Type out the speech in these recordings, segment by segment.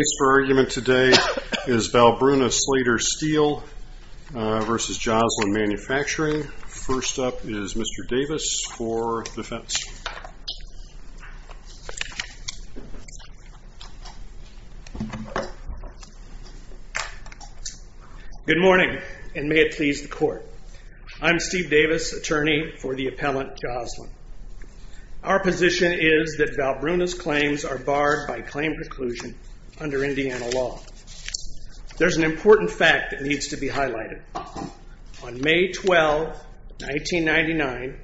The case for argument today is Valbruna Slater Steel v. Joslyn Manufacturing. First up is Mr. Davis for defense. Good morning, and may it please the Court. I'm Steve Davis, attorney for the appellant Joslyn. Our position is that Valbruna's claims are barred by claim preclusion under Indiana law. There's an important fact that needs to be highlighted. On May 12, 1999,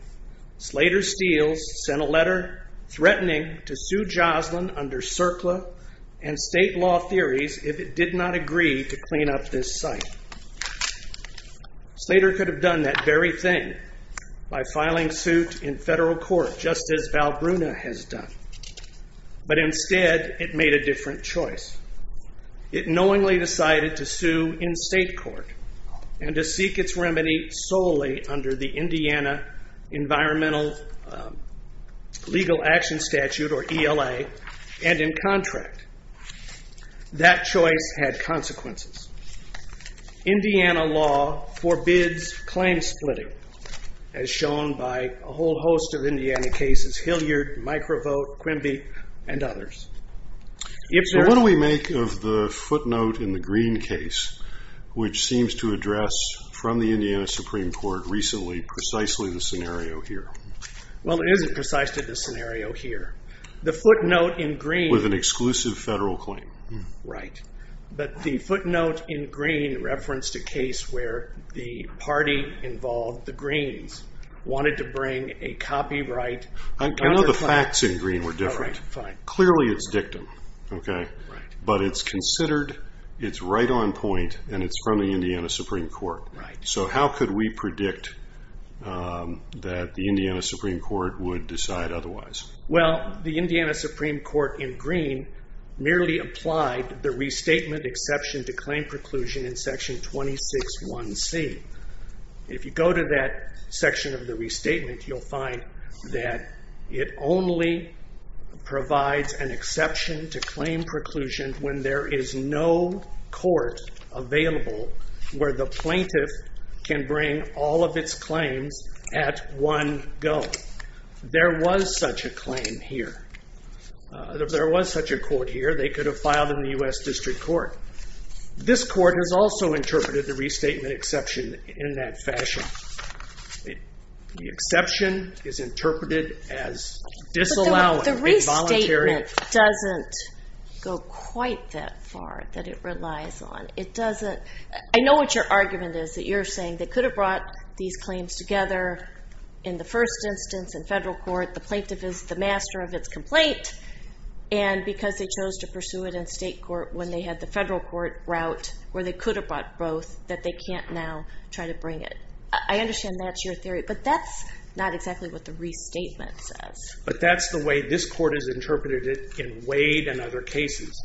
Slater Steel sent a letter threatening to sue Joslyn under CERCLA and state law theories if it did not agree to clean up this site. Slater could have done that very thing by filing suit in federal court, just as Valbruna has done. But instead, it made a different choice. It knowingly decided to sue in state court and to seek its remedy solely under the Indiana Environmental Legal Action Statute, or ELA, and in contract. That choice had consequences. Indiana law forbids claim splitting, as shown by a whole host of Indiana cases, Hilliard, Microvote, Quimby, and others. What do we make of the footnote in the Green case, which seems to address, from the Indiana Supreme Court recently, precisely the scenario here? Well, it isn't precisely the scenario here. The footnote in Green- With an exclusive federal claim. Right. But the footnote in Green referenced a case where the party involved, the Greens, wanted to bring a copyright- I know the facts in Green were different. All right, fine. Clearly, it's dictum. Okay? Right. But it's considered, it's right on point, and it's from the Indiana Supreme Court. Right. So how could we predict that the Indiana Supreme Court would decide otherwise? Well, the Indiana Supreme Court in Green merely applied the restatement exception to claim preclusion in Section 261C. If you go to that section of the restatement, you'll find that it only provides an exception to claim preclusion when there is no court available where the plaintiff can bring all of its claims at one go. There was such a claim here. There was such a court here. They could have filed in the U.S. District Court. This court has also interpreted the restatement exception in that fashion. The exception is interpreted as disallowing involuntary- But the restatement doesn't go quite that far that it relies on. I know what your argument is, that you're saying they could have brought these claims together in the first instance in federal court, the plaintiff is the master of its complaint, and because they chose to pursue it in state court when they had the federal court route where they could have brought both, that they can't now try to bring it. I understand that's your theory, but that's not exactly what the restatement says. But that's the way this court has interpreted it in Wade and other cases.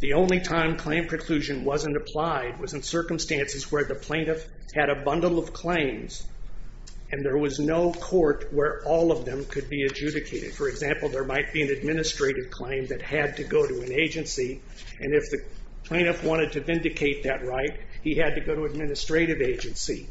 The only time claim preclusion wasn't applied was in circumstances where the plaintiff had a bundle of claims, and there was no court where all of them could be adjudicated. For example, there might be an administrative claim that had to go to an agency, and if the plaintiff wanted to vindicate that right, he had to go to an administrative agency.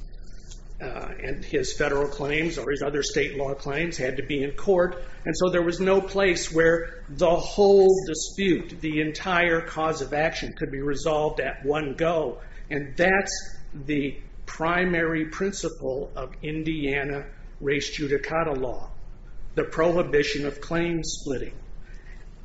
And his federal claims or his other state law claims had to be in court, and so there was no place where the whole dispute, the entire cause of action, could be resolved at one go, and that's the primary principle of Indiana race judicata law, the prohibition of claim splitting.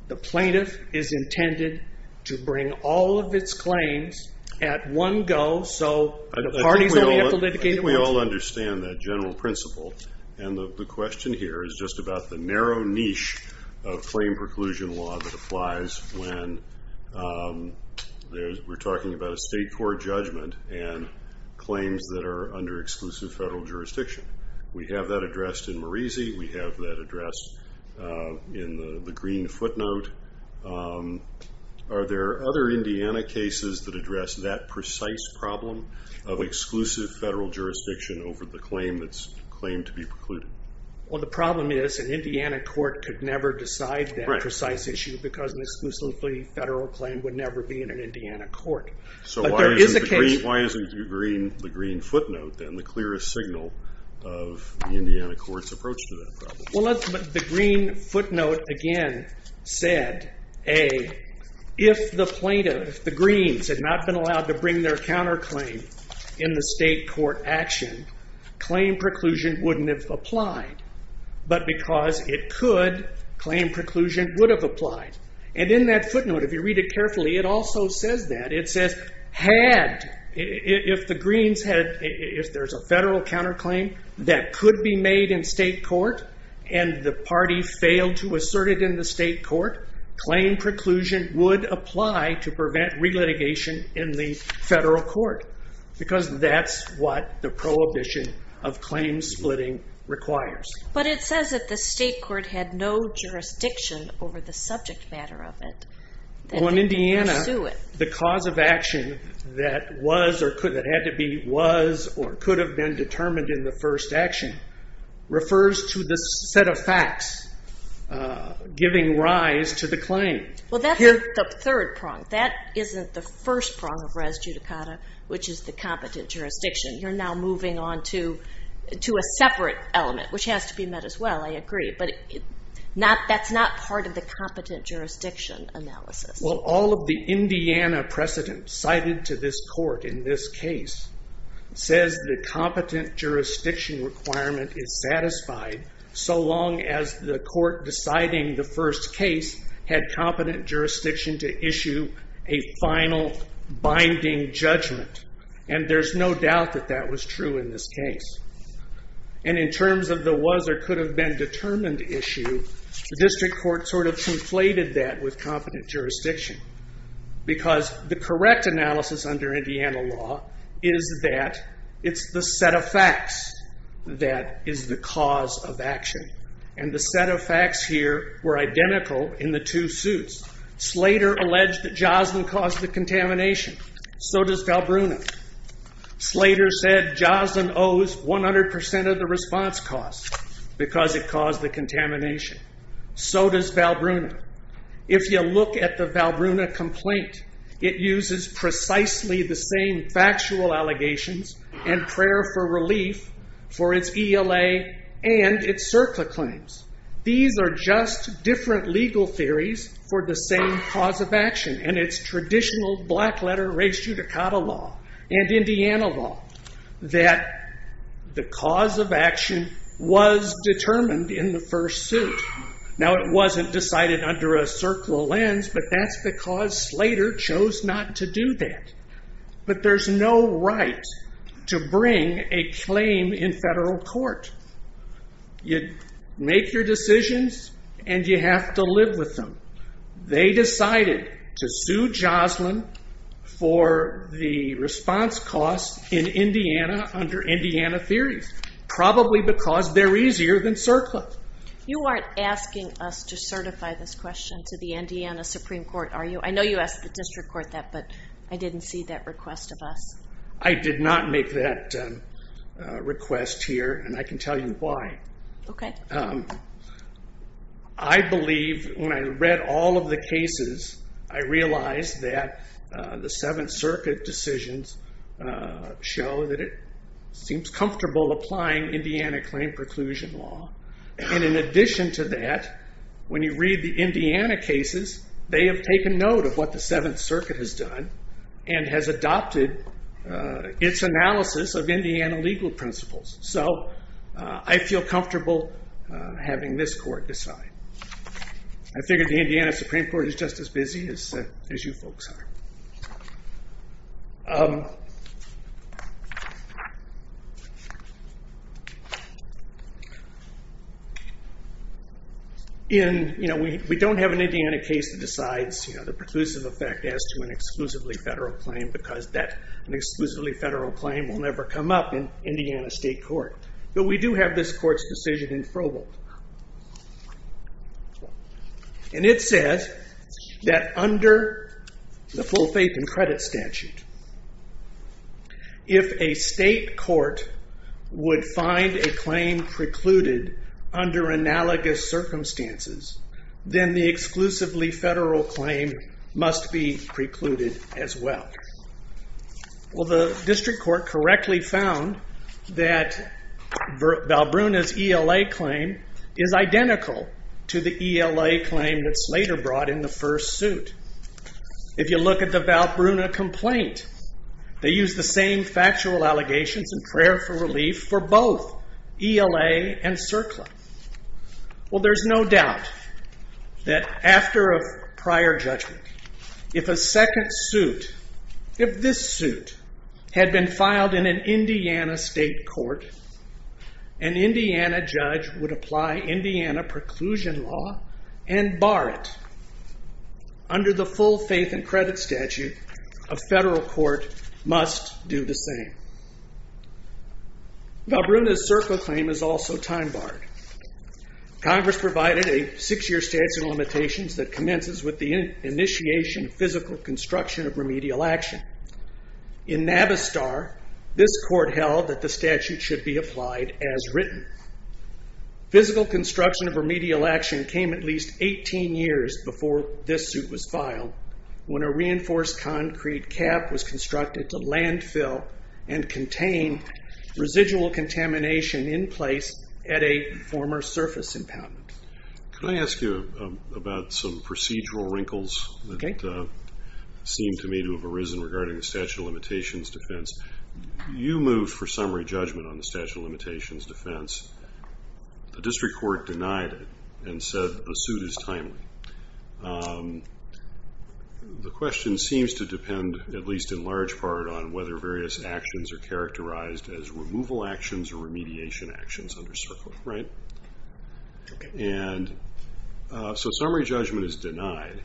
The plaintiff is intended to bring all of its claims at one go, so the parties only have to litigate it once. We all understand that general principle, and the question here is just about the narrow niche of claim preclusion law that applies when we're talking about a state court judgment and claims that are under exclusive federal jurisdiction. We have that addressed in Marisi. We have that addressed in the green footnote. Are there other Indiana cases that address that precise problem of exclusive federal jurisdiction over the claim that's claimed to be precluded? Well, the problem is an Indiana court could never decide that precise issue because an exclusively federal claim would never be in an Indiana court. So why isn't the green footnote then the clearest signal of the Indiana court's approach to that problem? Well, the green footnote again said, A, if the plaintiff, if the greens, had not been allowed to bring their counterclaim in the state court action, claim preclusion wouldn't have applied, but because it could, claim preclusion would have applied. And in that footnote, if you read it carefully, it also says that. If the greens had, if there's a federal counterclaim that could be made in state court and the party failed to assert it in the state court, claim preclusion would apply to prevent relitigation in the federal court because that's what the prohibition of claim splitting requires. But it says that the state court had no jurisdiction over the subject matter of it. Well, in Indiana, the cause of action that was or could, that had to be, was or could have been determined in the first action refers to the set of facts giving rise to the claim. Well, that's the third prong. That isn't the first prong of res judicata, which is the competent jurisdiction. You're now moving on to a separate element, which has to be met as well, I agree. But that's not part of the competent jurisdiction analysis. Well, all of the Indiana precedent cited to this court in this case says the competent jurisdiction requirement is satisfied so long as the court deciding the first case had competent jurisdiction to issue a final binding judgment. And there's no doubt that that was true in this case. And in terms of the was or could have been determined issue, the district court sort of conflated that with competent jurisdiction because the correct analysis under Indiana law is that it's the set of facts that is the cause of action. And the set of facts here were identical in the two suits. Slater alleged that Joslin caused the contamination. So does Galbrunov. Slater said Joslin owes 100% of the response costs because it caused the contamination. So does Galbrunov. If you look at the Galbrunov complaint, it uses precisely the same factual allegations and prayer for relief for its ELA and its CERCLA claims. These are just different legal theories for the same cause of action. And it's traditional black letter res judicata law and Indiana law that the cause of action was determined in the first suit. Now, it wasn't decided under a CERCLA lens, but that's because Slater chose not to do that. But there's no right to bring a claim in federal court. You make your decisions, and you have to live with them. They decided to sue Joslin for the response costs in Indiana under Indiana theories, probably because they're easier than CERCLA. You aren't asking us to certify this question to the Indiana Supreme Court, are you? I know you asked the district court that, but I didn't see that request of us. I did not make that request here, and I can tell you why. Okay. I believe when I read all of the cases, I realized that the Seventh Circuit decisions show that it seems comfortable applying Indiana claim preclusion law. And in addition to that, when you read the Indiana cases, they have taken note of what the Seventh Circuit has done and has adopted its analysis of Indiana legal principles. So I feel comfortable having this court decide. I figure the Indiana Supreme Court is just as busy as you folks are. We don't have an Indiana case that decides the preclusive effect as to an exclusively federal claim because an exclusively federal claim will never come up in Indiana state court. But we do have this court's decision in Frobold. And it says that under the full faith and credit statute, if a state court would find a claim precluded under analogous circumstances, then the exclusively federal claim must be precluded as well. Well, the district court correctly found that Valbruna's ELA claim is identical to the ELA claim that Slater brought in the first suit. If you look at the Valbruna complaint, they used the same factual allegations in prayer for relief for both ELA and CERCLA. Well, there's no doubt that after a prior judgment, if a second suit, if this suit had been filed in an Indiana state court, an Indiana judge would apply Indiana preclusion law and bar it. Under the full faith and credit statute, a federal court must do the same. Valbruna's CERCLA claim is also time barred. that commences with the initiation of physical construction of remedial action. In Navistar, this court held that the statute should be applied as written. Physical construction of remedial action came at least 18 years before this suit was filed when a reinforced concrete cap was constructed to landfill and contain residual contamination in place at a former surface impoundment. Could I ask you about some procedural wrinkles that seem to me to have arisen regarding the statute of limitations defense? You moved for summary judgment on the statute of limitations defense. The district court denied it and said the suit is timely. The question seems to depend, at least in large part, on whether various actions are characterized as removal actions or remediation actions under CERCLA. Summary judgment is denied.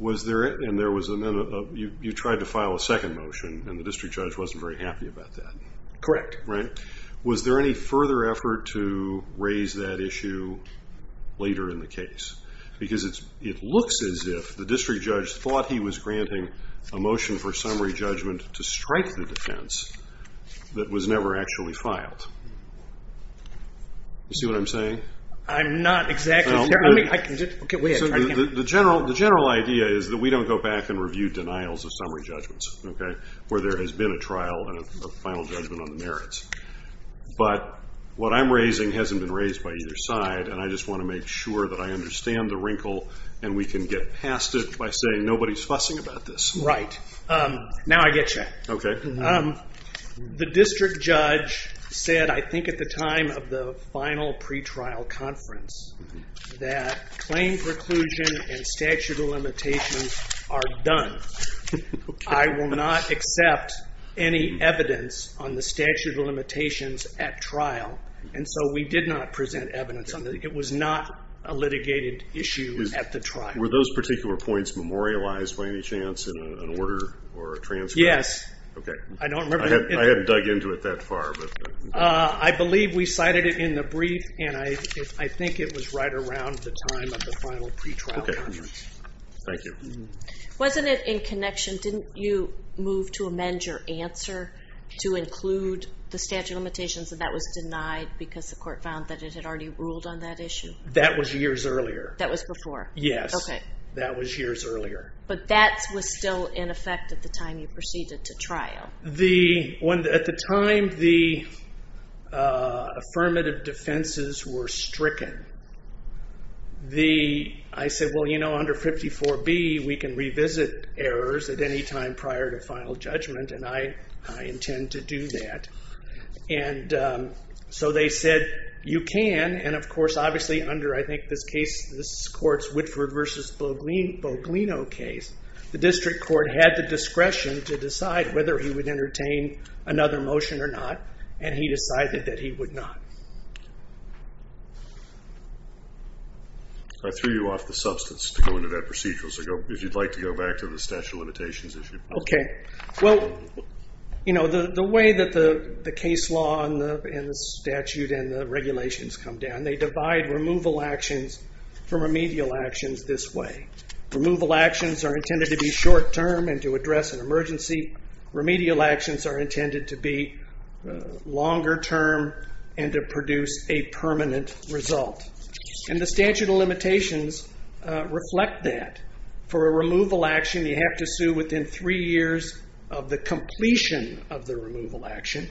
You tried to file a second motion and the district judge wasn't very happy about that. Correct. Was there any further effort to raise that issue later in the case? Because it looks as if the district judge thought he was granting a motion for summary judgment to strike the defense that was never actually filed. You see what I'm saying? I'm not exactly sure. The general idea is that we don't go back and review denials of summary judgments where there has been a trial and a final judgment on the merits. But what I'm raising hasn't been raised by either side, and I just want to make sure that I understand the wrinkle and we can get past it by saying nobody's fussing about this. Right. Now I get you. The district judge said, I think at the time of the final pretrial conference, that claim preclusion and statute of limitations are done. I will not accept any evidence on the statute of limitations at trial, and so we did not present evidence on that. Were those particular points memorialized by any chance in an order or a transcript? Yes. I hadn't dug into it that far. I believe we cited it in the brief, and I think it was right around the time of the final pretrial conference. Okay. Thank you. Wasn't it in connection, didn't you move to amend your answer to include the statute of limitations, and that was denied because the court found that it had already ruled on that issue? That was years earlier. That was before? Yes. That was years earlier. But that was still in effect at the time you proceeded to trial. At the time the affirmative defenses were stricken, I said, well, you know, under 54B we can revisit errors at any time prior to final judgment, and I intend to do that. And so they said, you can, and of course, obviously, under I think this court's Whitford v. Boglino case, the district court had the discretion to decide whether he would entertain another motion or not, and he decided that he would not. I threw you off the substance to go into that procedural, so if you'd like to go back to the statute of limitations issue. Okay. Well, you know, the way that the case law and the statute and the regulations come down, they divide removal actions from remedial actions this way. Removal actions are intended to be short term and to address an emergency. Remedial actions are intended to be longer term and to produce a permanent result. And the statute of limitations reflect that. For a removal action, you have to sue within three years of the completion of the removal action,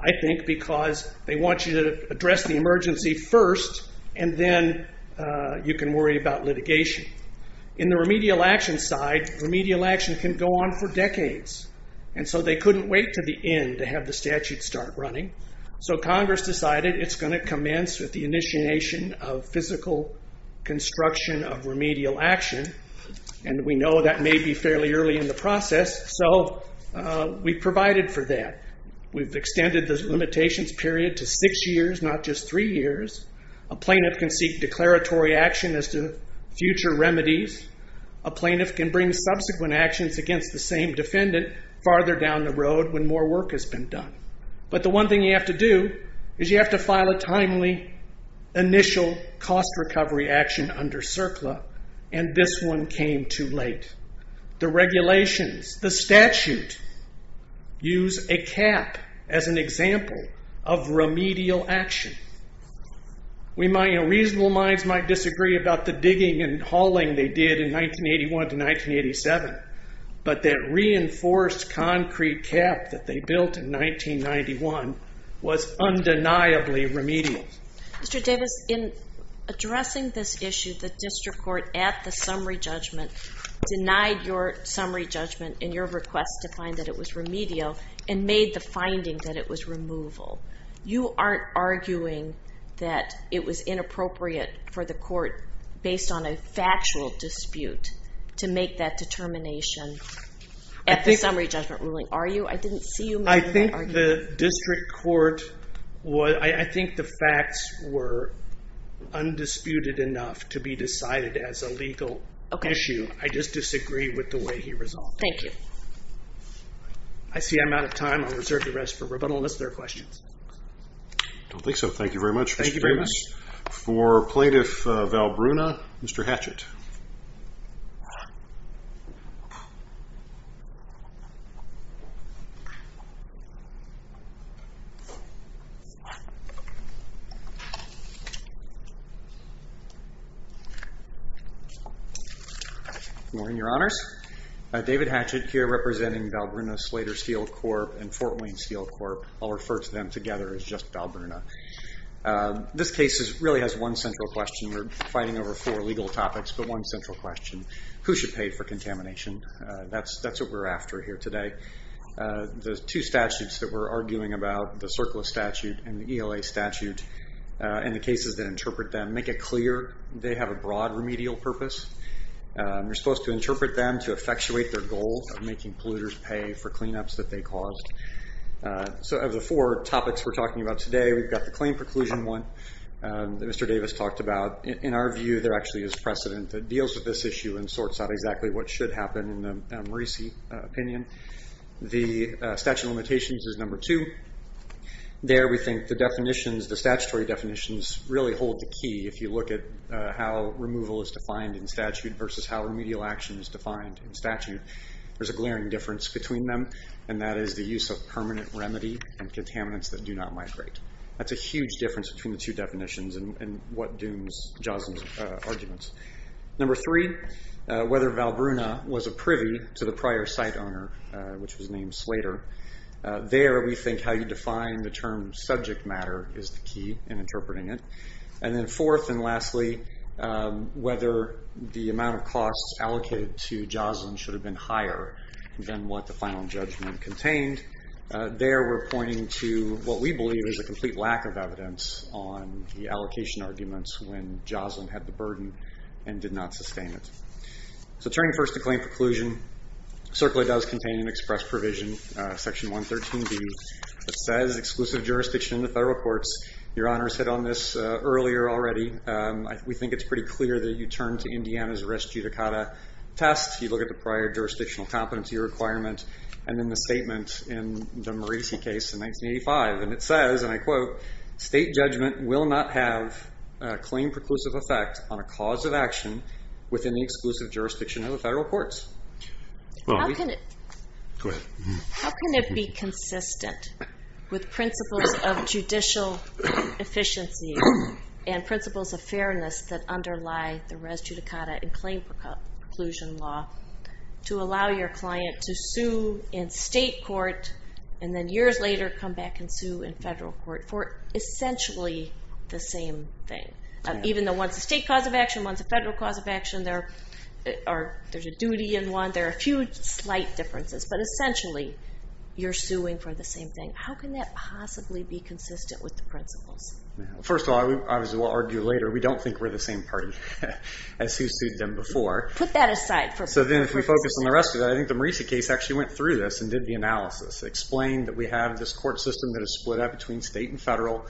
I think, because they want you to address the emergency first, and then you can worry about litigation. In the remedial action side, remedial action can go on for decades, and so they couldn't wait to the end to have the statute start running. So Congress decided it's going to commence with the initiation of physical construction of remedial action, and we know that may be fairly early in the process, so we provided for that. We've extended the limitations period to six years, not just three years. A plaintiff can seek declaratory action as to future remedies. A plaintiff can bring subsequent actions against the same defendant farther down the road when more work has been done. But the one thing you have to do is you have to file a timely initial cost recovery action under CERCLA, and this one came too late. The regulations, the statute, use a cap as an example of remedial action. Reasonable minds might disagree about the digging and hauling they did in 1981 to 1987, but that reinforced concrete cap that they built in 1991 was undeniably remedial. Mr. Davis, in addressing this issue, the district court at the summary judgment denied your summary judgment in your request to find that it was remedial and made the finding that it was removal. You aren't arguing that it was inappropriate for the court, based on a factual dispute, to make that determination at the summary judgment ruling, are you? I didn't see you making that argument. The district court, I think the facts were undisputed enough to be decided as a legal issue. I just disagree with the way he resolved it. Thank you. I see I'm out of time. I'll reserve the rest for rebuttal unless there are questions. I don't think so. Thank you very much, Mr. Davis. For Plaintiff Val Bruna, Mr. Hatchett. Good morning, Your Honors. David Hatchett here representing Val Bruna Slater Steel Corp. and Fort Wayne Steel Corp. I'll refer to them together as just Val Bruna. This case really has one central question. We're fighting over four legal topics, but one central question. Who should pay for contamination? That's what we're after here today. The two statutes that we're arguing about, the surplus statute and the ELA statute, and the cases that interpret them make it clear they have a broad remedial purpose. You're supposed to interpret them to effectuate their goal of making polluters pay for cleanups that they caused. Of the four topics we're talking about today, we've got the claim preclusion one that Mr. Davis talked about. In our view, there actually is precedent that deals with this issue and sorts out exactly what should happen in the Morrisey opinion. The statute of limitations is number two. There we think the definitions, the statutory definitions, really hold the key if you look at how removal is defined in statute versus how remedial action is defined in statute. There's a glaring difference between them, and that is the use of permanent remedy and contaminants that do not migrate. That's a huge difference between the two definitions and what dooms Joslin's arguments. Number three, whether Valbruna was a privy to the prior site owner, which was named Slater. There we think how you define the term subject matter is the key in interpreting it. And then fourth and lastly, whether the amount of costs allocated to Joslin should have been higher than what the final judgment contained. There we're pointing to what we believe is a complete lack of evidence on the allocation arguments when Joslin had the burden and did not sustain it. So turning first to claim preclusion, CERCLA does contain an express provision, section 113b, that says exclusive jurisdiction in the federal courts. Your honors hit on this earlier already. We think it's pretty clear that you turn to Indiana's arrest judicata test. You look at the prior jurisdictional competency requirement and then the statement in the Morrisey case in 1985. And it says, and I quote, state judgment will not have a claim preclusive effect on a cause of action within the exclusive jurisdiction of the federal courts. How can it be consistent with principles of judicial efficiency and principles of fairness that underlie the arrest judicata and claim preclusion law to allow your client to sue in state court and then years later come back and sue in federal court for essentially the same thing? Even though one's a state cause of action, one's a federal cause of action, there's a duty in one, there are a few slight differences, but essentially you're suing for the same thing. How can that possibly be consistent with the principles? First of all, as we'll argue later, we don't think we're the same party as who sued them before. Put that aside. So then if we focus on the rest of that, I think the Morrisey case actually went through this and did the analysis. It explained that we have this court system that is split up between state and federal,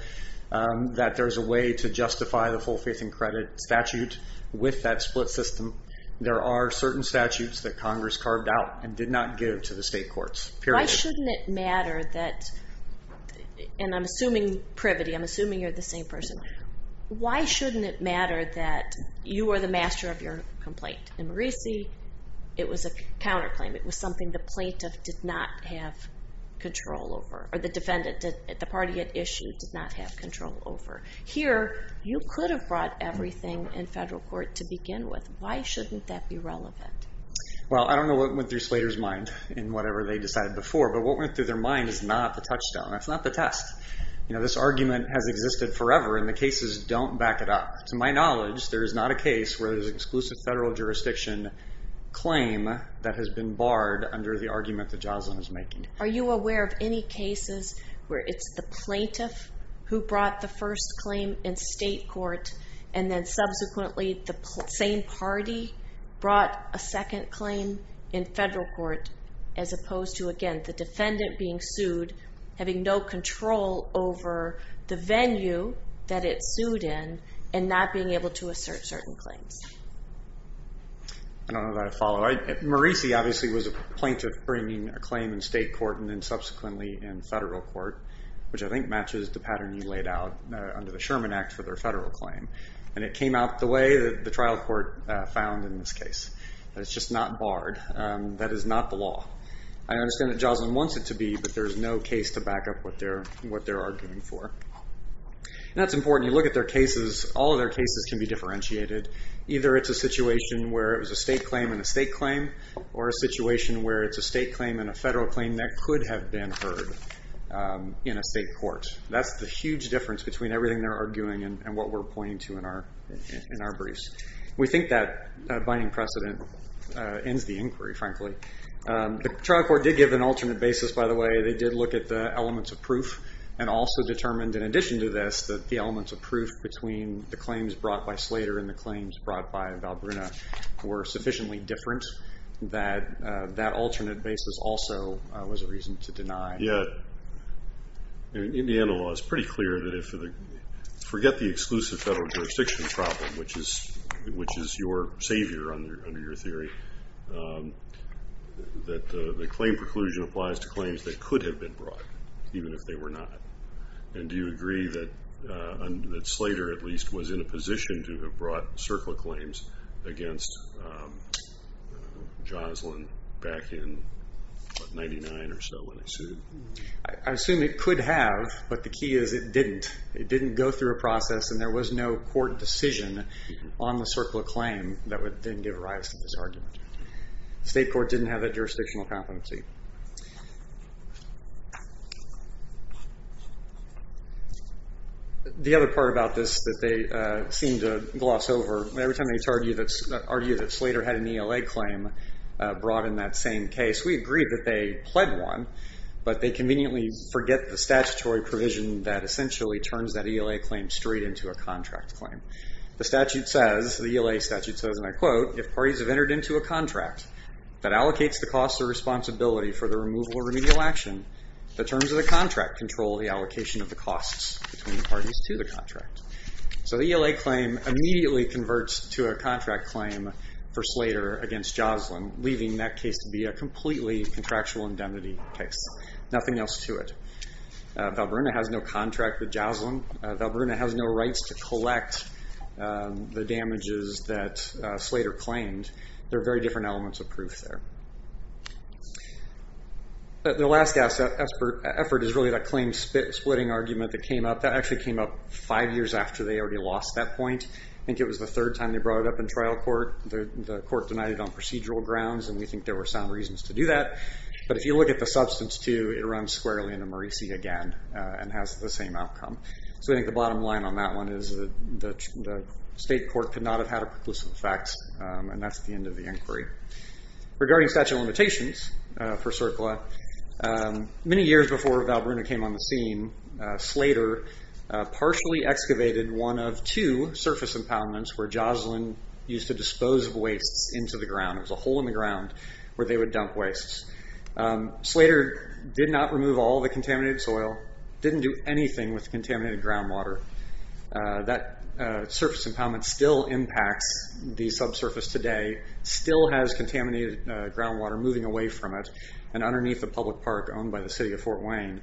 that there's a way to justify the full faith and credit statute with that split system. There are certain statutes that Congress carved out and did not give to the state courts, period. Why shouldn't it matter that, and I'm assuming privity, I'm assuming you're the same person. Why shouldn't it matter that you are the master of your complaint? In Morrisey, it was a counterclaim. It was something the plaintiff did not have control over, or the defendant that the party had issued did not have control over. Here, you could have brought everything in federal court to begin with. Why shouldn't that be relevant? Well, I don't know what went through Slater's mind in whatever they decided before, but what went through their mind is not the touchstone. That's not the test. This argument has existed forever, and the cases don't back it up. To my knowledge, there is not a case where there's an exclusive federal jurisdiction claim that has been barred under the argument that Joslyn is making. Are you aware of any cases where it's the plaintiff who brought the first claim in state court and then subsequently the same party brought a second claim in federal court as opposed to, again, the defendant being sued, having no control over the venue that it's sued in and not being able to assert certain claims? I don't know that I follow. Maurice obviously was a plaintiff bringing a claim in state court and then subsequently in federal court, which I think matches the pattern you laid out under the Sherman Act for their federal claim. It came out the way that the trial court found in this case. It's just not barred. That is not the law. I understand that Joslyn wants it to be, but there's no case to back up what they're arguing for. That's important. You look at their cases. All of their cases can be differentiated. Either it's a situation where it was a state claim in a state claim or a situation where it's a state claim in a federal claim that could have been heard in a state court. That's the huge difference between everything they're arguing and what we're pointing to in our briefs. We think that binding precedent ends the inquiry, frankly. The trial court did give an alternate basis, by the way. They did look at the elements of proof and also determined in addition to this that the elements of proof between the claims brought by Slater and the claims brought by Valbrunna were sufficiently different that that alternate basis also was a reason to deny. Yeah. In the end, the law is pretty clear that if the forget the exclusive federal jurisdiction problem, which is your savior under your theory, that the claim preclusion applies to claims that could have been brought even if they were not. And do you agree that Slater, at least, was in a position to have brought CERCLA claims against Joslin back in 1999 or so when they sued? I assume it could have, but the key is it didn't. It didn't go through a process and there was no court decision on the CERCLA claim that would then give rise to this argument. The state court didn't have that jurisdictional competency. The other part about this that they seem to gloss over, every time they argue that Slater had an ELA claim brought in that same case, we agree that they pled one, but they conveniently forget the statutory provision that essentially turns that ELA claim straight into a contract claim. The statute says, the ELA statute says, and I quote, if parties have entered into a contract that allocates the cost or responsibility for the removal or remedial action, the terms of the contract control the allocation of the costs between the parties to the contract. So the ELA claim immediately converts to a contract claim for Slater against Joslin, leaving that case to be a completely contractual indemnity case. Nothing else to it. Valbrunna has no contract with Joslin. Valbrunna has no rights to collect the damages that Slater claimed. There are very different elements of proof there. The last effort is really that claim splitting argument that came up. That actually came up five years after they already lost that point. I think it was the third time they brought it up in trial court. The court denied it on procedural grounds, and we think there were sound reasons to do that. But if you look at the substance, too, it runs squarely into Morrisey again and has the same outcome. So I think the bottom line on that one is that the state court and that's the end of the inquiry. Regarding statute of limitations for CERCLA, many years before Valbrunna came on the scene, Slater partially excavated one of two surface impoundments where Joslin used to dispose of wastes into the ground. It was a hole in the ground where they would dump wastes. Slater did not remove all the contaminated soil, didn't do anything with the contaminated groundwater. That surface impoundment still impacts the subsurface today, still has contaminated groundwater moving away from it, and underneath the public park owned by the city of Fort Wayne.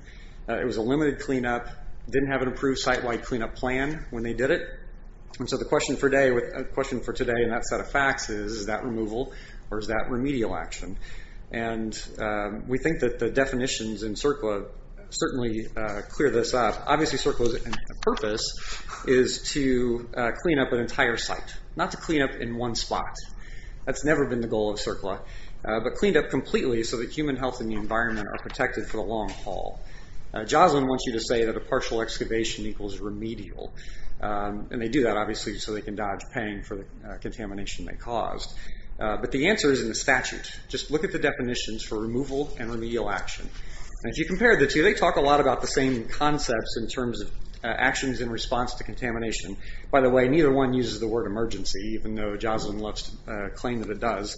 It was a limited cleanup, didn't have an approved site-wide cleanup plan when they did it. So the question for today and that set of facts is, is that removal or is that remedial action? We think that the definitions in CERCLA certainly clear this up. Obviously CERCLA's purpose is to clean up an entire site, not to clean up in one spot. That's never been the goal of CERCLA, but cleaned up completely so that human health and the environment are protected for the long haul. Joslin wants you to say that a partial excavation equals remedial. They do that obviously so they can dodge paying for the contamination they caused. But the answer is in the statute. Just look at the definitions for removal and remedial action. If you compare the two, they talk a lot about the same concepts in terms of actions in response to contamination. By the way, neither one uses the word emergency, even though Joslin claims that it does.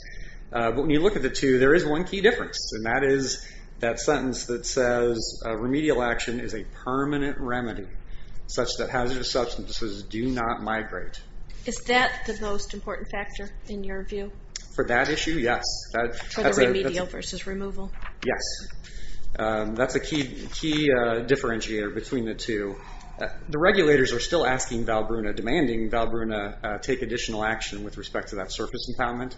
But when you look at the two, there is one key difference, and that is that sentence that says remedial action is a permanent remedy such that hazardous substances do not migrate. Is that the most important factor in your view? For that issue, yes. For the remedial versus removal? Yes. That's a key differentiator between the two. The regulators are still asking Valbruna, demanding Valbruna take additional action with respect to that surface impoundment.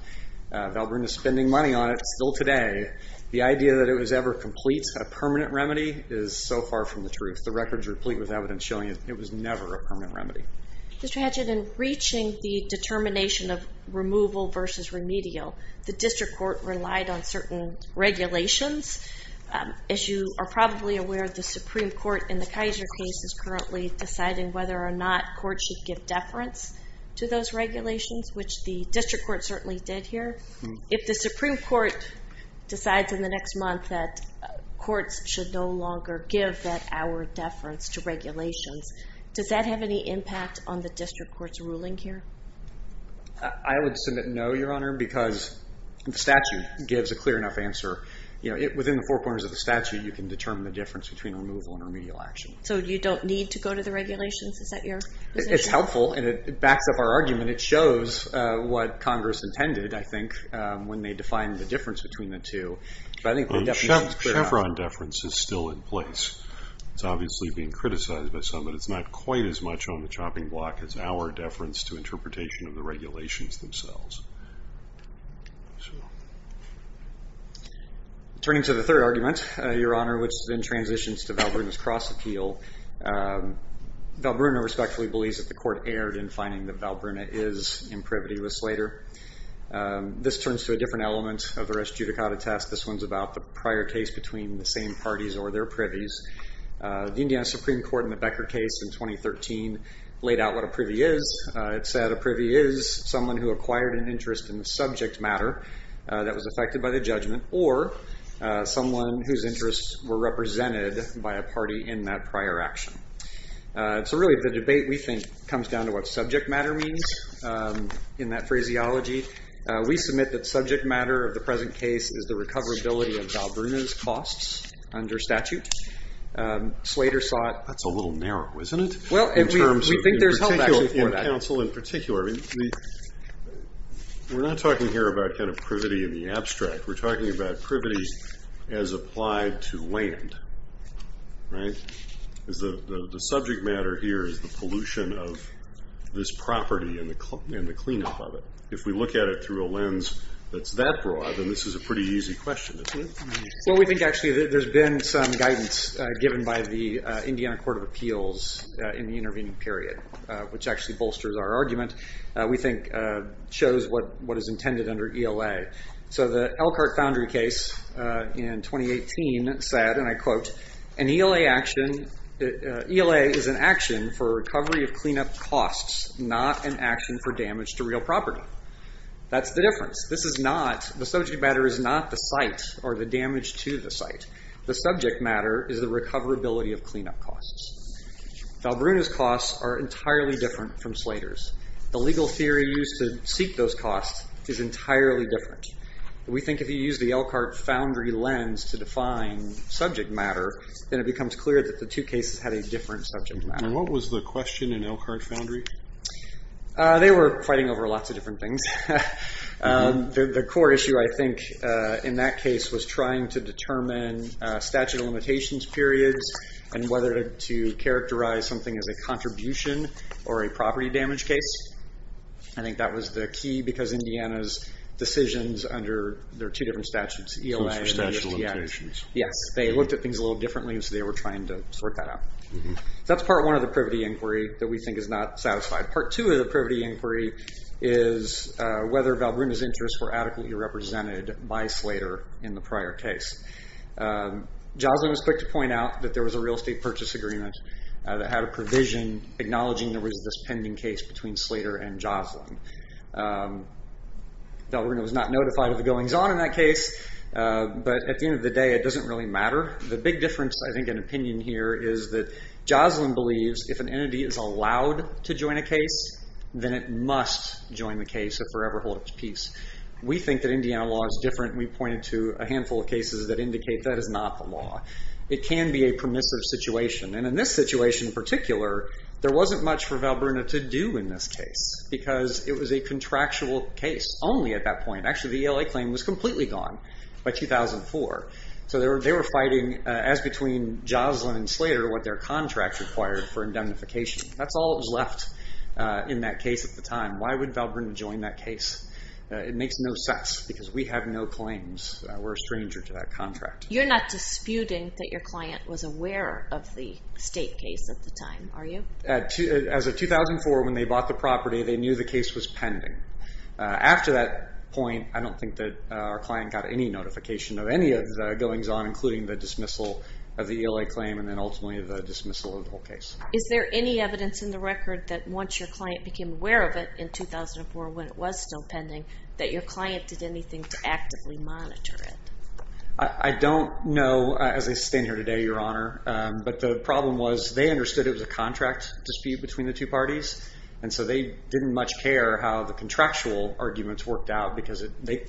Valbruna is spending money on it still today. The idea that it was ever complete, a permanent remedy, is so far from the truth. The record is replete with evidence showing it was never a permanent remedy. Mr. Hatchett, in reaching the determination of removal versus remedial, the district court relied on certain regulations. As you are probably aware, the Supreme Court in the Kaiser case is currently deciding whether or not courts should give deference to those regulations, which the district court certainly did here. If the Supreme Court decides in the next month that courts should no longer give that hour deference to regulations, does that have any impact on the district court's ruling here? I would submit no, Your Honor, because the statute gives a clear enough answer. Within the four corners of the statute, you can determine the difference between removal and remedial action. So you don't need to go to the regulations? It's helpful, and it backs up our argument. It shows what Congress intended, I think, when they defined the difference between the two. Chevron deference is still in place. It's obviously being criticized by some, but it's not quite as much on the chopping block as hour deference to interpretation of the regulations themselves. Turning to the third argument, Your Honor, which then transitions to Valbrunna's cross-appeal. Valbrunna respectfully believes that the court erred in finding that Valbrunna is imprivity with Slater. This turns to a different element of the rest judicata test. This one's about the prior case between the same parties or their privies. The Indiana Supreme Court in the Becker case in 2013 laid out what a privy is. It said a privy is someone who acquired an interest in the subject matter that was affected by the judgment or someone whose interests were represented by a party in that prior action. So really, the debate, we think, comes down to what subject matter means in that phraseology. We submit that subject matter of the present case is the recoverability of Valbrunna's costs under statute. Slater saw it. That's a little narrow, isn't it? Well, we think there's help, actually, for that. In terms of counsel in particular. We're not talking here about privity in the abstract. We're talking about privity as applied to land. The subject matter here is the pollution of this property and the cleanup of it. If we look at it through a lens that's that broad, then this is a pretty easy question, isn't it? Well, we think, actually, there's been some guidance given by the Indiana Court of Appeals in the intervening period, which actually bolsters our argument. We think it shows what is intended under ELA. So the Elkhart Foundry case in 2018 said, and I quote, an ELA action, ELA is an action for recovery of cleanup costs, not an action for damage to real property. That's the difference. This is not, the subject matter is not the site or the damage to the site. The subject matter is the recoverability of cleanup costs. Valbrunna's costs are entirely different from Slater's. The legal theory used to seek those costs is entirely different. We think if you use the Elkhart Foundry lens to define subject matter, then it becomes clear that the two cases had a different subject matter. And what was the question in Elkhart Foundry? They were fighting over lots of different things. The core issue, I think, in that case was trying to determine statute of limitations periods and whether to characterize something as a contribution or a property damage case. I think that was the key because Indiana's decisions under their two different statutes, ELA and Indiana. Yes, they looked at things a little differently, so they were trying to sort that out. That's part one of the privity inquiry that we think is not satisfied. Part two of the privity inquiry is whether Valbrunna's interests were adequately represented by Slater in the prior case. Joslyn was quick to point out that there was a real estate purchase agreement that had a provision acknowledging there was this pending case between Slater and Joslyn. Valbrunna was not notified of the goings-on in that case, but at the end of the day, it doesn't really matter. The big difference, I think, in opinion here is that Joslyn believes if an entity is allowed to join a case, then it must join the case, a forever hold up to peace. We think that Indiana law is different. We pointed to a handful of cases that indicate that is not the law. It can be a permissive situation, and in this situation in particular, there wasn't much for Valbrunna to do in this case because it was a contractual case only at that point. Actually, the ELA claim was completely gone by 2004. So they were fighting, as between Joslyn and Slater, what their contract required for indemnification. That's all that was left in that case at the time. Why would Valbrunna join that case? It makes no sense because we have no claims. We're a stranger to that contract. You're not disputing that your client was aware of the state case at the time, are you? As of 2004, when they bought the property, they knew the case was pending. After that point, I don't think that our client got any notification of any of the goings-on, including the dismissal of the ELA claim and then ultimately the dismissal of the whole case. Is there any evidence in the record that once your client became aware of it in 2004, when it was still pending, that your client did anything to actively monitor it? I don't know, as I stand here today, Your Honor, but the problem was they understood it was a contract dispute between the two parties, and so they didn't much care how the contractual arguments worked out because they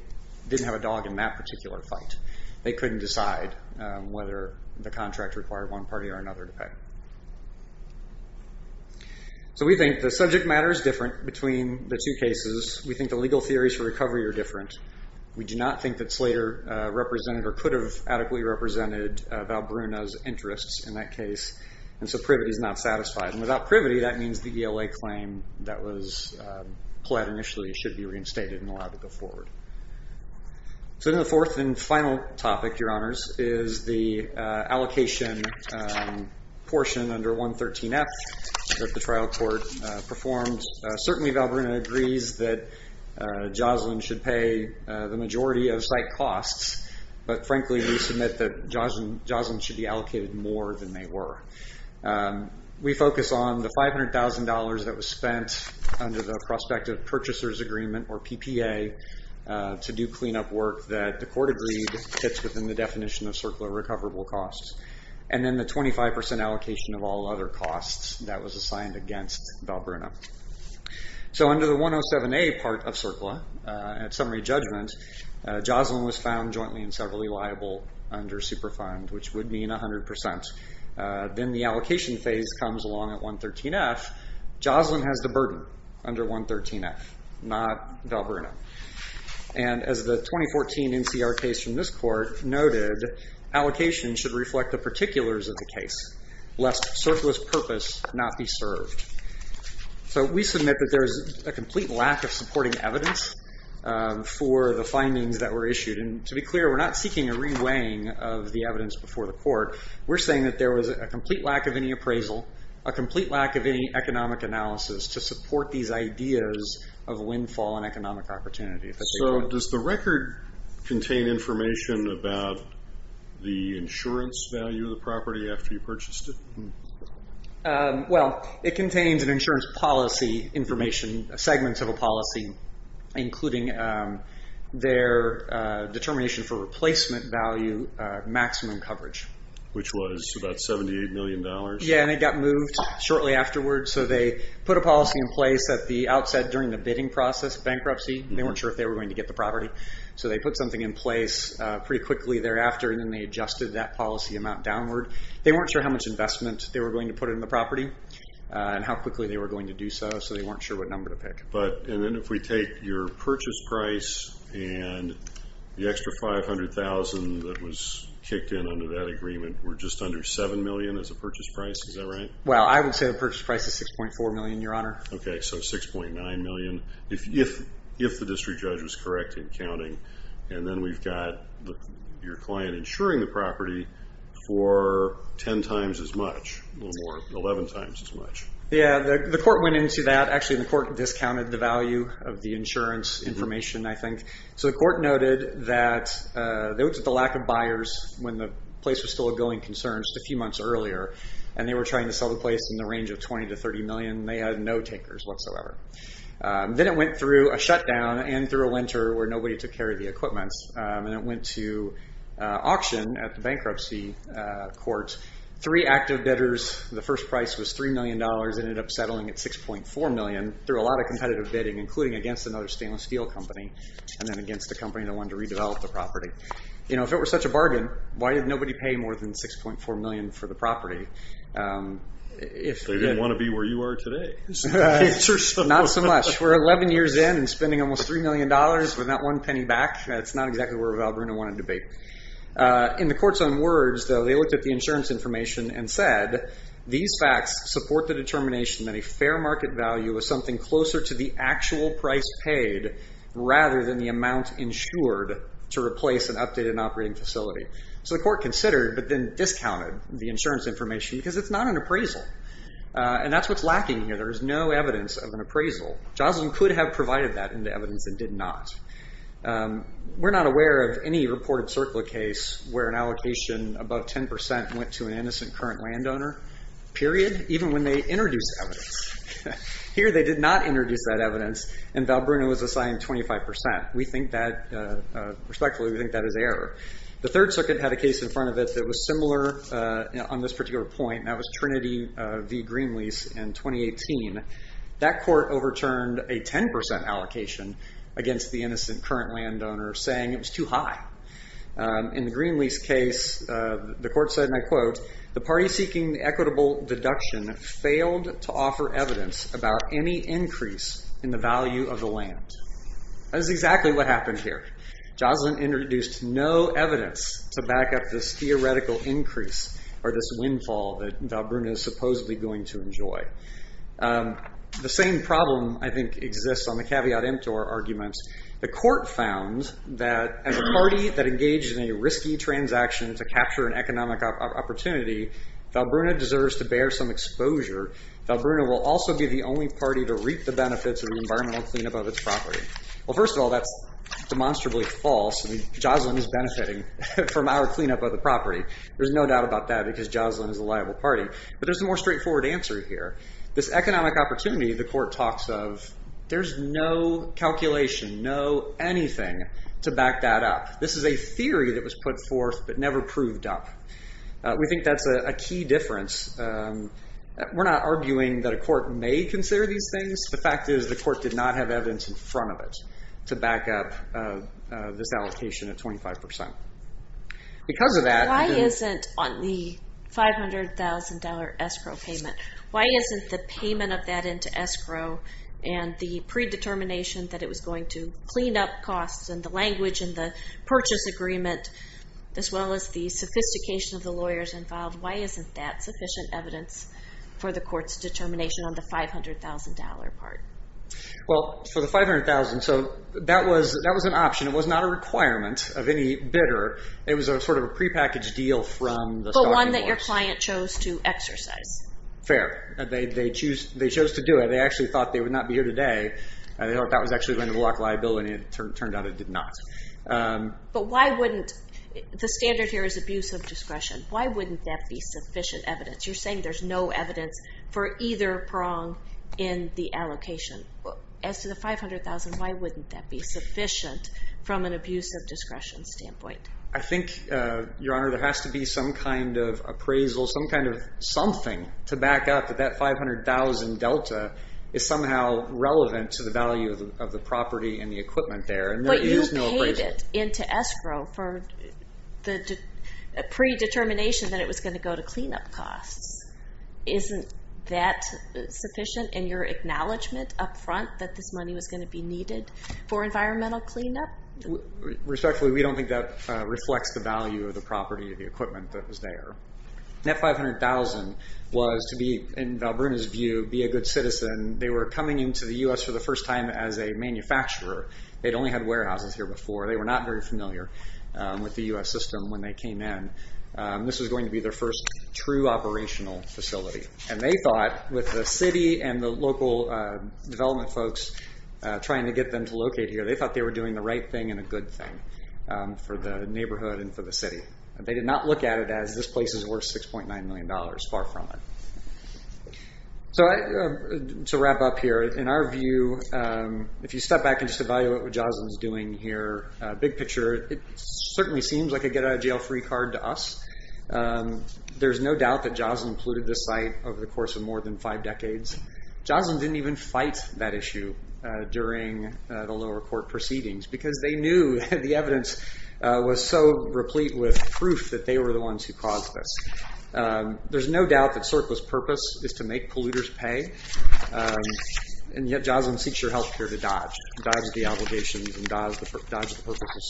didn't have a dog in that particular fight. They couldn't decide whether the contract required one party or another to pay. So we think the subject matter is different between the two cases. We think the legal theories for recovery are different. We do not think that Slater represented or could have adequately represented Valbrunna's interests in that case, and so privity is not satisfied. Without privity, that means the ELA claim that was pled initially should be reinstated and allowed to go forward. So then the fourth and final topic, Your Honors, is the allocation portion under 113F that the trial court performed. Certainly Valbrunna agrees that Joslyn should pay the majority of site costs, but frankly we submit that Joslyn should be allocated more than they were. We focus on the $500,000 that was spent under the Prospective Purchasers Agreement or PPA to do cleanup work that the court agreed fits within the definition of CERCLA recoverable costs, and then the 25% allocation of all other costs that was assigned against Valbrunna. So under the 107A part of CERCLA, at summary judgment, Joslyn was found jointly and severally liable under Superfund, which would mean 100%. Then the allocation phase comes along at 113F. Joslyn has the burden under 113F, not Valbrunna. And as the 2014 NCR case from this court noted, allocation should reflect the particulars of the case, lest CERCLA's purpose not be served. So we submit that there is a complete lack of supporting evidence for the findings that were issued, and to be clear, we're not seeking a reweighing of the evidence before the court. We're saying that there was a complete lack of any appraisal, a complete lack of any economic analysis to support these ideas of windfall and economic opportunity. So does the record contain information about the insurance value of the property after you purchased it? Well, it contains an insurance policy information, including segments of a policy, including their determination for replacement value maximum coverage. Which was about $78 million? Yeah, and it got moved shortly afterward, so they put a policy in place at the outset during the bidding process bankruptcy. They weren't sure if they were going to get the property, so they put something in place pretty quickly thereafter, and then they adjusted that policy amount downward. They weren't sure how much investment they were going to put in the property and how quickly they were going to do so, so they weren't sure what number to pick. And then if we take your purchase price and the extra $500,000 that was kicked in under that agreement were just under $7 million as a purchase price, is that right? Well, I would say the purchase price is $6.4 million, Your Honor. Okay, so $6.9 million, if the district judge was correct in counting. And then we've got your client insuring the property for 10 times as much, a little more, 11 times as much. Yeah, the court went into that. Actually, the court discounted the value of the insurance information, I think. So the court noted that it was the lack of buyers when the place was still a going concern just a few months earlier, and they were trying to sell the place in the range of $20 to $30 million. They had no takers whatsoever. Then it went through a shutdown and through a winter where nobody took care of the equipments, and it went to auction at the bankruptcy court. Three active debtors. The first price was $3 million. It ended up settling at $6.4 million through a lot of competitive bidding, including against another stainless steel company and then against a company that wanted to redevelop the property. You know, if it were such a bargain, why did nobody pay more than $6.4 million for the property? They didn't want to be where you are today. Not so much. We're 11 years in and spending almost $3 million with not one penny back. That's not exactly where Val Bruno wanted to be. In the court's own words, though, they looked at the insurance information and said, these facts support the determination that a fair market value was something closer to the actual price paid rather than the amount insured to replace an updated and operating facility. So the court considered but then discounted the insurance information because it's not an appraisal, and that's what's lacking here. There is no evidence of an appraisal. Joslin could have provided that in the evidence and did not. We're not aware of any reported CERCLA case where an allocation above 10 percent went to an innocent current landowner, period, even when they introduced evidence. Here they did not introduce that evidence, and Val Bruno was assigned 25 percent. We think that, respectfully, we think that is error. The third circuit had a case in front of it that was similar on this particular point, and that was Trinity v. Greenlease in 2018. That court overturned a 10 percent allocation against the innocent current landowner, saying it was too high. In the Greenlease case, the court said, and I quote, the party seeking the equitable deduction failed to offer evidence about any increase in the value of the land. That is exactly what happened here. Joslin introduced no evidence to back up this theoretical increase or this windfall that Val Bruno is supposedly going to enjoy. The same problem, I think, exists on the caveat emptor arguments. The court found that as a party that engaged in a risky transaction to capture an economic opportunity, Val Bruno deserves to bear some exposure. Val Bruno will also be the only party to reap the benefits of the environmental cleanup of its property. Well, first of all, that's demonstrably false. Joslin is benefiting from our cleanup of the property. There's no doubt about that because Joslin is a liable party. But there's a more straightforward answer here. This economic opportunity, the court talks of, there's no calculation, no anything to back that up. This is a theory that was put forth but never proved up. We think that's a key difference. We're not arguing that a court may consider these things. The fact is the court did not have evidence in front of it to back up this allocation at 25 percent. Because of that... Why isn't on the $500,000 escrow payment, why isn't the payment of that into escrow and the predetermination that it was going to clean up costs and the language and the purchase agreement as well as the sophistication of the lawyers involved, why isn't that sufficient evidence for the court's determination on the $500,000 part? Well, for the $500,000, so that was an option. It was not a requirement of any bidder. It was a sort of a prepackaged deal from the... But one that your client chose to exercise. Fair. They chose to do it. They actually thought they would not be here today. They thought that was actually going to block liability and it turned out it did not. But why wouldn't... The standard here is abuse of discretion. Why wouldn't that be sufficient evidence? You're saying there's no evidence for either prong in the allocation. As to the $500,000, why wouldn't that be sufficient from an abuse of discretion standpoint? I think, Your Honor, there has to be some kind of appraisal, some kind of something to back up that that $500,000 delta is somehow relevant to the value of the property and the equipment there. But you paid it into escrow for the predetermination that it was going to go to cleanup costs. Isn't that sufficient in your acknowledgement up front that this money was going to be needed for environmental cleanup? Respectfully, we don't think that reflects the value of the property or the equipment that was there. That $500,000 was to be, in Valbrunna's view, be a good citizen. They were coming into the U.S. for the first time as a manufacturer. They'd only had warehouses here before. They were not very familiar with the U.S. system when they came in. This was going to be their first true operational facility. And they thought, with the city and the local development folks trying to get them to locate here, they thought they were doing the right thing and a good thing for the neighborhood and for the city. They did not look at it as this place is worth $6.9 million. Far from it. To wrap up here, in our view, if you step back and just evaluate what Jocelyn's doing here, big picture, it certainly seems like a get-out-of-jail-free card to us. There's no doubt that Jocelyn polluted this site over the course of more than five decades. Jocelyn didn't even fight that issue during the lower court proceedings because they knew the evidence was so replete with proof that they were the ones who caused this. There's no doubt that CERCLA's purpose is to make polluters pay, and yet Jocelyn seeks her health care to dodge, dodge the obligations and dodge the purpose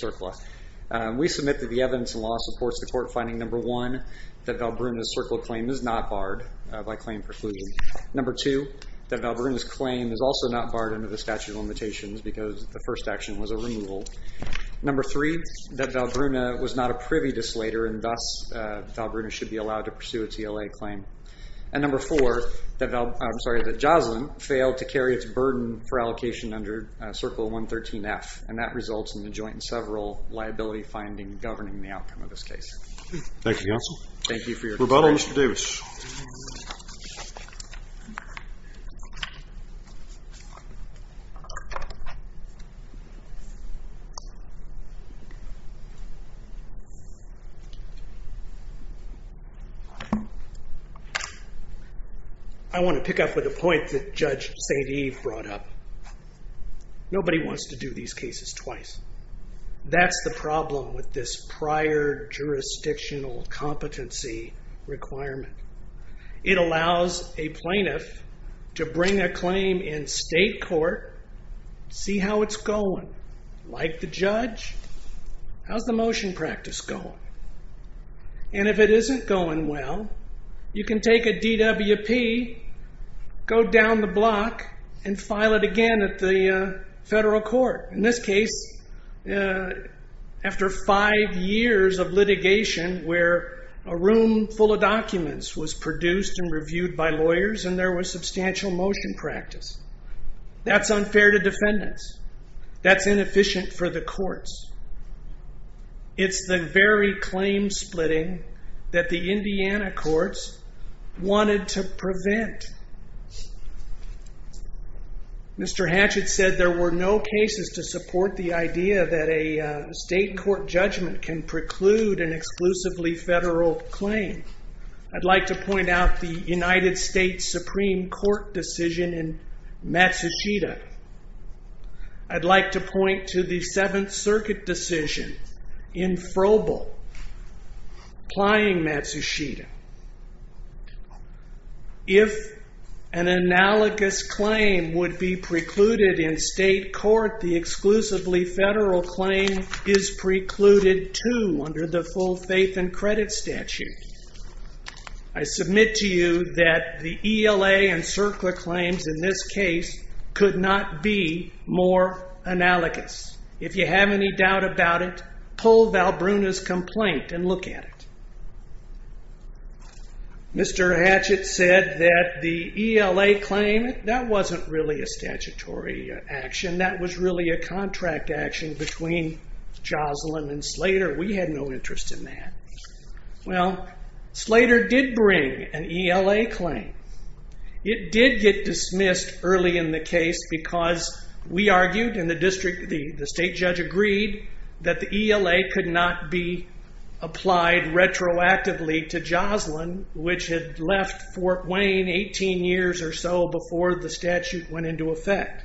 of CERCLA. We submit that the evidence in law supports the court finding, number one, that Valbruna's CERCLA claim is not barred by claim preclusion. Number two, that Valbruna's claim is also not barred under the statute of limitations because the first action was a removal. Number three, that Valbruna was not a privy to Slater and thus Valbruna should be allowed to pursue a TLA claim. And number four, that Jocelyn failed to carry its burden for allocation under CERCLA 113F, and that results in the joint and several liability findings governing the outcome of this case. Thank you, counsel. Thank you for your time. Rebuttal, Mr. Davis. Thank you. I want to pick up with a point that Judge St. Eve brought up. Nobody wants to do these cases twice. That's the problem with this prior jurisdictional competency requirement. It allows a plaintiff to bring a claim in state court, see how it's going. Like the judge, how's the motion practice going? And if it isn't going well, you can take a DWP, go down the block, and file it again at the federal court. In this case, after five years of litigation where a room full of documents was produced and reviewed by lawyers and there was substantial motion practice. That's unfair to defendants. That's inefficient for the courts. It's the very claim splitting that the Indiana courts wanted to prevent. Mr. Hatchett said there were no cases to support the idea that a state court judgment can preclude an exclusively federal claim. I'd like to point out the United States Supreme Court decision in Matsushita. I'd like to point to the Seventh Circuit decision in Frobel plying Matsushita. If an analogous claim would be precluded in state court, the exclusively federal claim is precluded too under the full faith and credit statute. I submit to you that the ELA and CERCLA claims in this case could not be more analogous. If you have any doubt about it, pull Valbrunna's complaint and look at it. Mr. Hatchett said that the ELA claim, that wasn't really a statutory action. That was really a contract action between Joslin and Slater. We had no interest in that. Well, Slater did bring an ELA claim. It did get dismissed early in the case because we argued and the state judge agreed that the ELA could not be applied retroactively to Joslin, which had left Fort Wayne 18 years or so before the statute went into effect.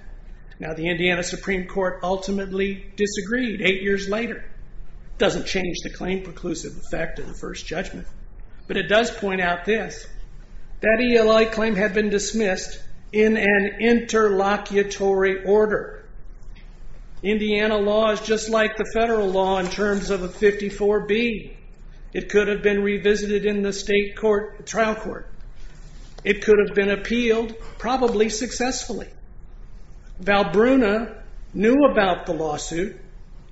Now, the Indiana Supreme Court ultimately disagreed eight years later. It doesn't change the claim preclusive effect of the first judgment. But it does point out this. That ELA claim had been dismissed in an interlocutory order. Indiana law is just like the federal law in terms of a 54B. It could have been revisited in the state trial court. It could have been appealed probably successfully. Valbrunna knew about the lawsuit.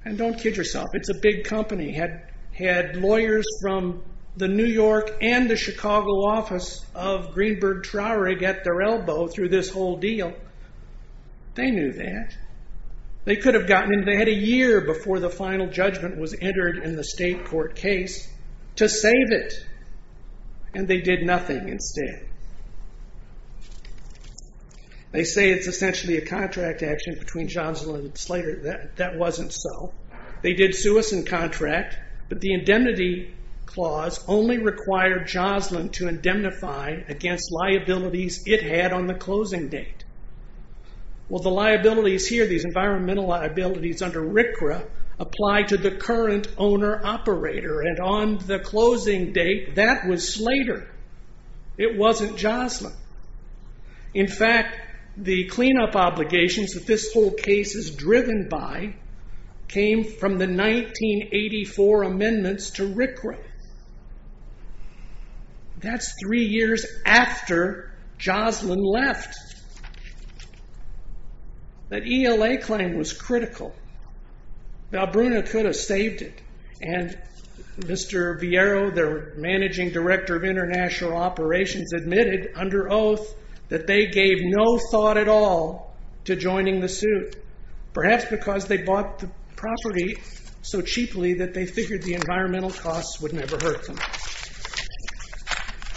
And don't kid yourself, it's a big company. Had lawyers from the New York and the Chicago office of Greenberg Traurig at their elbow through this whole deal. They knew that. They had a year before the final judgment was entered in the state court case to save it. And they did nothing instead. They say it's essentially a contract action between Joslin and Slater. That wasn't so. They did sue us in contract. But the indemnity clause only required Joslin to indemnify against liabilities it had on the closing date. Well, the liabilities here, these environmental liabilities under RCRA, apply to the current owner-operator. And on the closing date, that was Slater. It wasn't Joslin. In fact, the cleanup obligations that this whole case is driven by came from the 1984 amendments to RCRA. That's three years after Joslin left. That ELA claim was critical. Now, Brunna could have saved it. And Mr. Vieiro, their managing director of international operations, admitted under oath that they gave no thought at all to joining the suit. Perhaps because they bought the property so cheaply that they figured the environmental costs would never hurt them.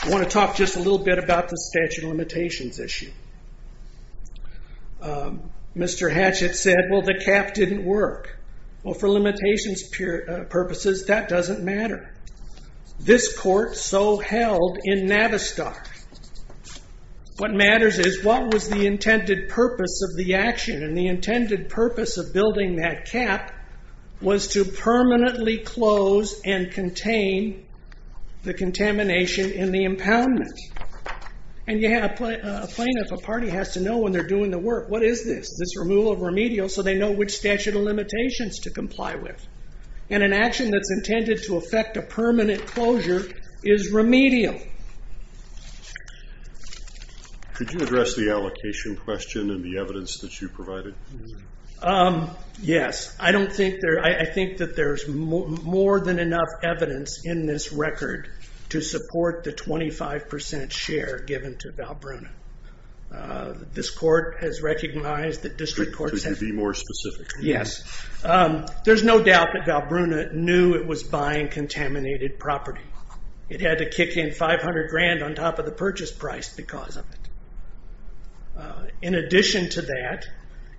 I want to talk just a little bit about the statute of limitations issue. Mr. Hatchett said, well, the cap didn't work. Well, for limitations purposes, that doesn't matter. This court so held in Navistar. What matters is what was the intended purpose of the action. And the intended purpose of building that cap was to permanently close and contain the contamination in the impoundment. And you have a plaintiff, a party, has to know when they're doing the work. What is this? This removal of remedial so they know which statute of limitations to comply with. And an action that's intended to affect a permanent closure is remedial. Could you address the allocation question and the evidence that you provided? Yes. I think that there's more than enough evidence in this record to support the 25% share given to Valbruna. This court has recognized that district courts have... Could you be more specific? Yes. There's no doubt that Valbruna knew it was buying contaminated property. It had to kick in 500 grand on top of the purchase price because of it. In addition to that,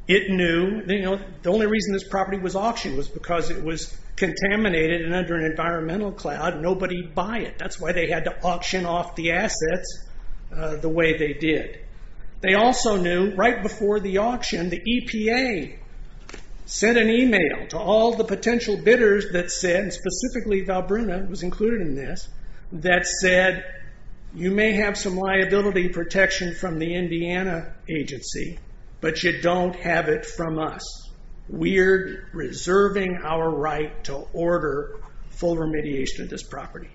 it knew... The only reason this property was auctioned was because it was contaminated and under an environmental cloud. Nobody would buy it. That's why they had to auction off the assets the way they did. They also knew right before the auction, the EPA sent an email to all the potential bidders that said, and specifically Valbruna was included in this, that said, you may have some liability protection from the Indiana agency, but you don't have it from us. We're reserving our right to order full remediation of this property.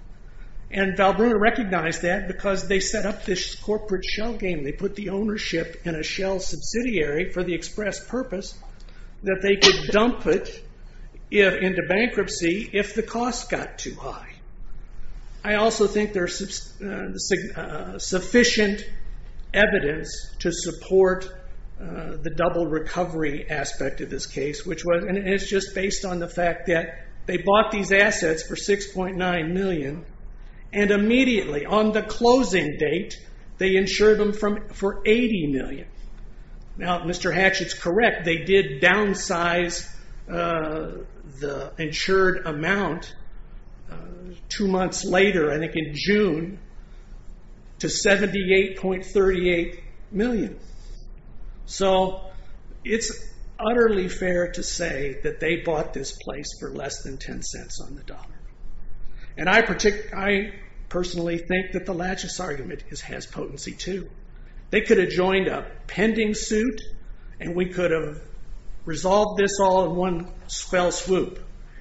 And Valbruna recognized that because they set up this corporate shell game. They put the ownership in a shell subsidiary for the express purpose that they could dump it into bankruptcy if the cost got too high. I also think there's sufficient evidence to support the double recovery aspect of this case, and it's just based on the fact that they bought these assets for 6.9 million and immediately on the closing date, they insured them for 80 million. Now, if Mr. Hatch is correct, they did downsize the insured amount two months later, I think in June, to 78.38 million. So it's utterly fair to say that they bought this place for less than 10 cents on the dollar. And I personally think that the lachis argument has potency too. They could have joined a pending suit and we could have resolved this all in one fell swoop.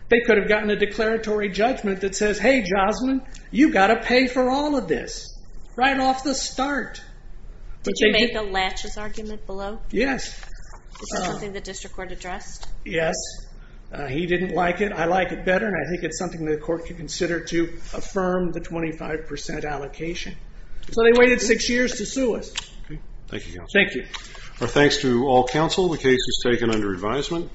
They could have gotten a declaratory judgment that says, hey, Josmyn, you've got to pay for all of this right off the start. Did you make a lachis argument below? Yes. Is that something the district court addressed? Yes. He didn't like it. I like it better, and I think it's something the court can consider to affirm the 25% allocation. So they waited six years to sue us. Thank you, counsel. Thank you. Our thanks to all counsel. The case was taken under advisement.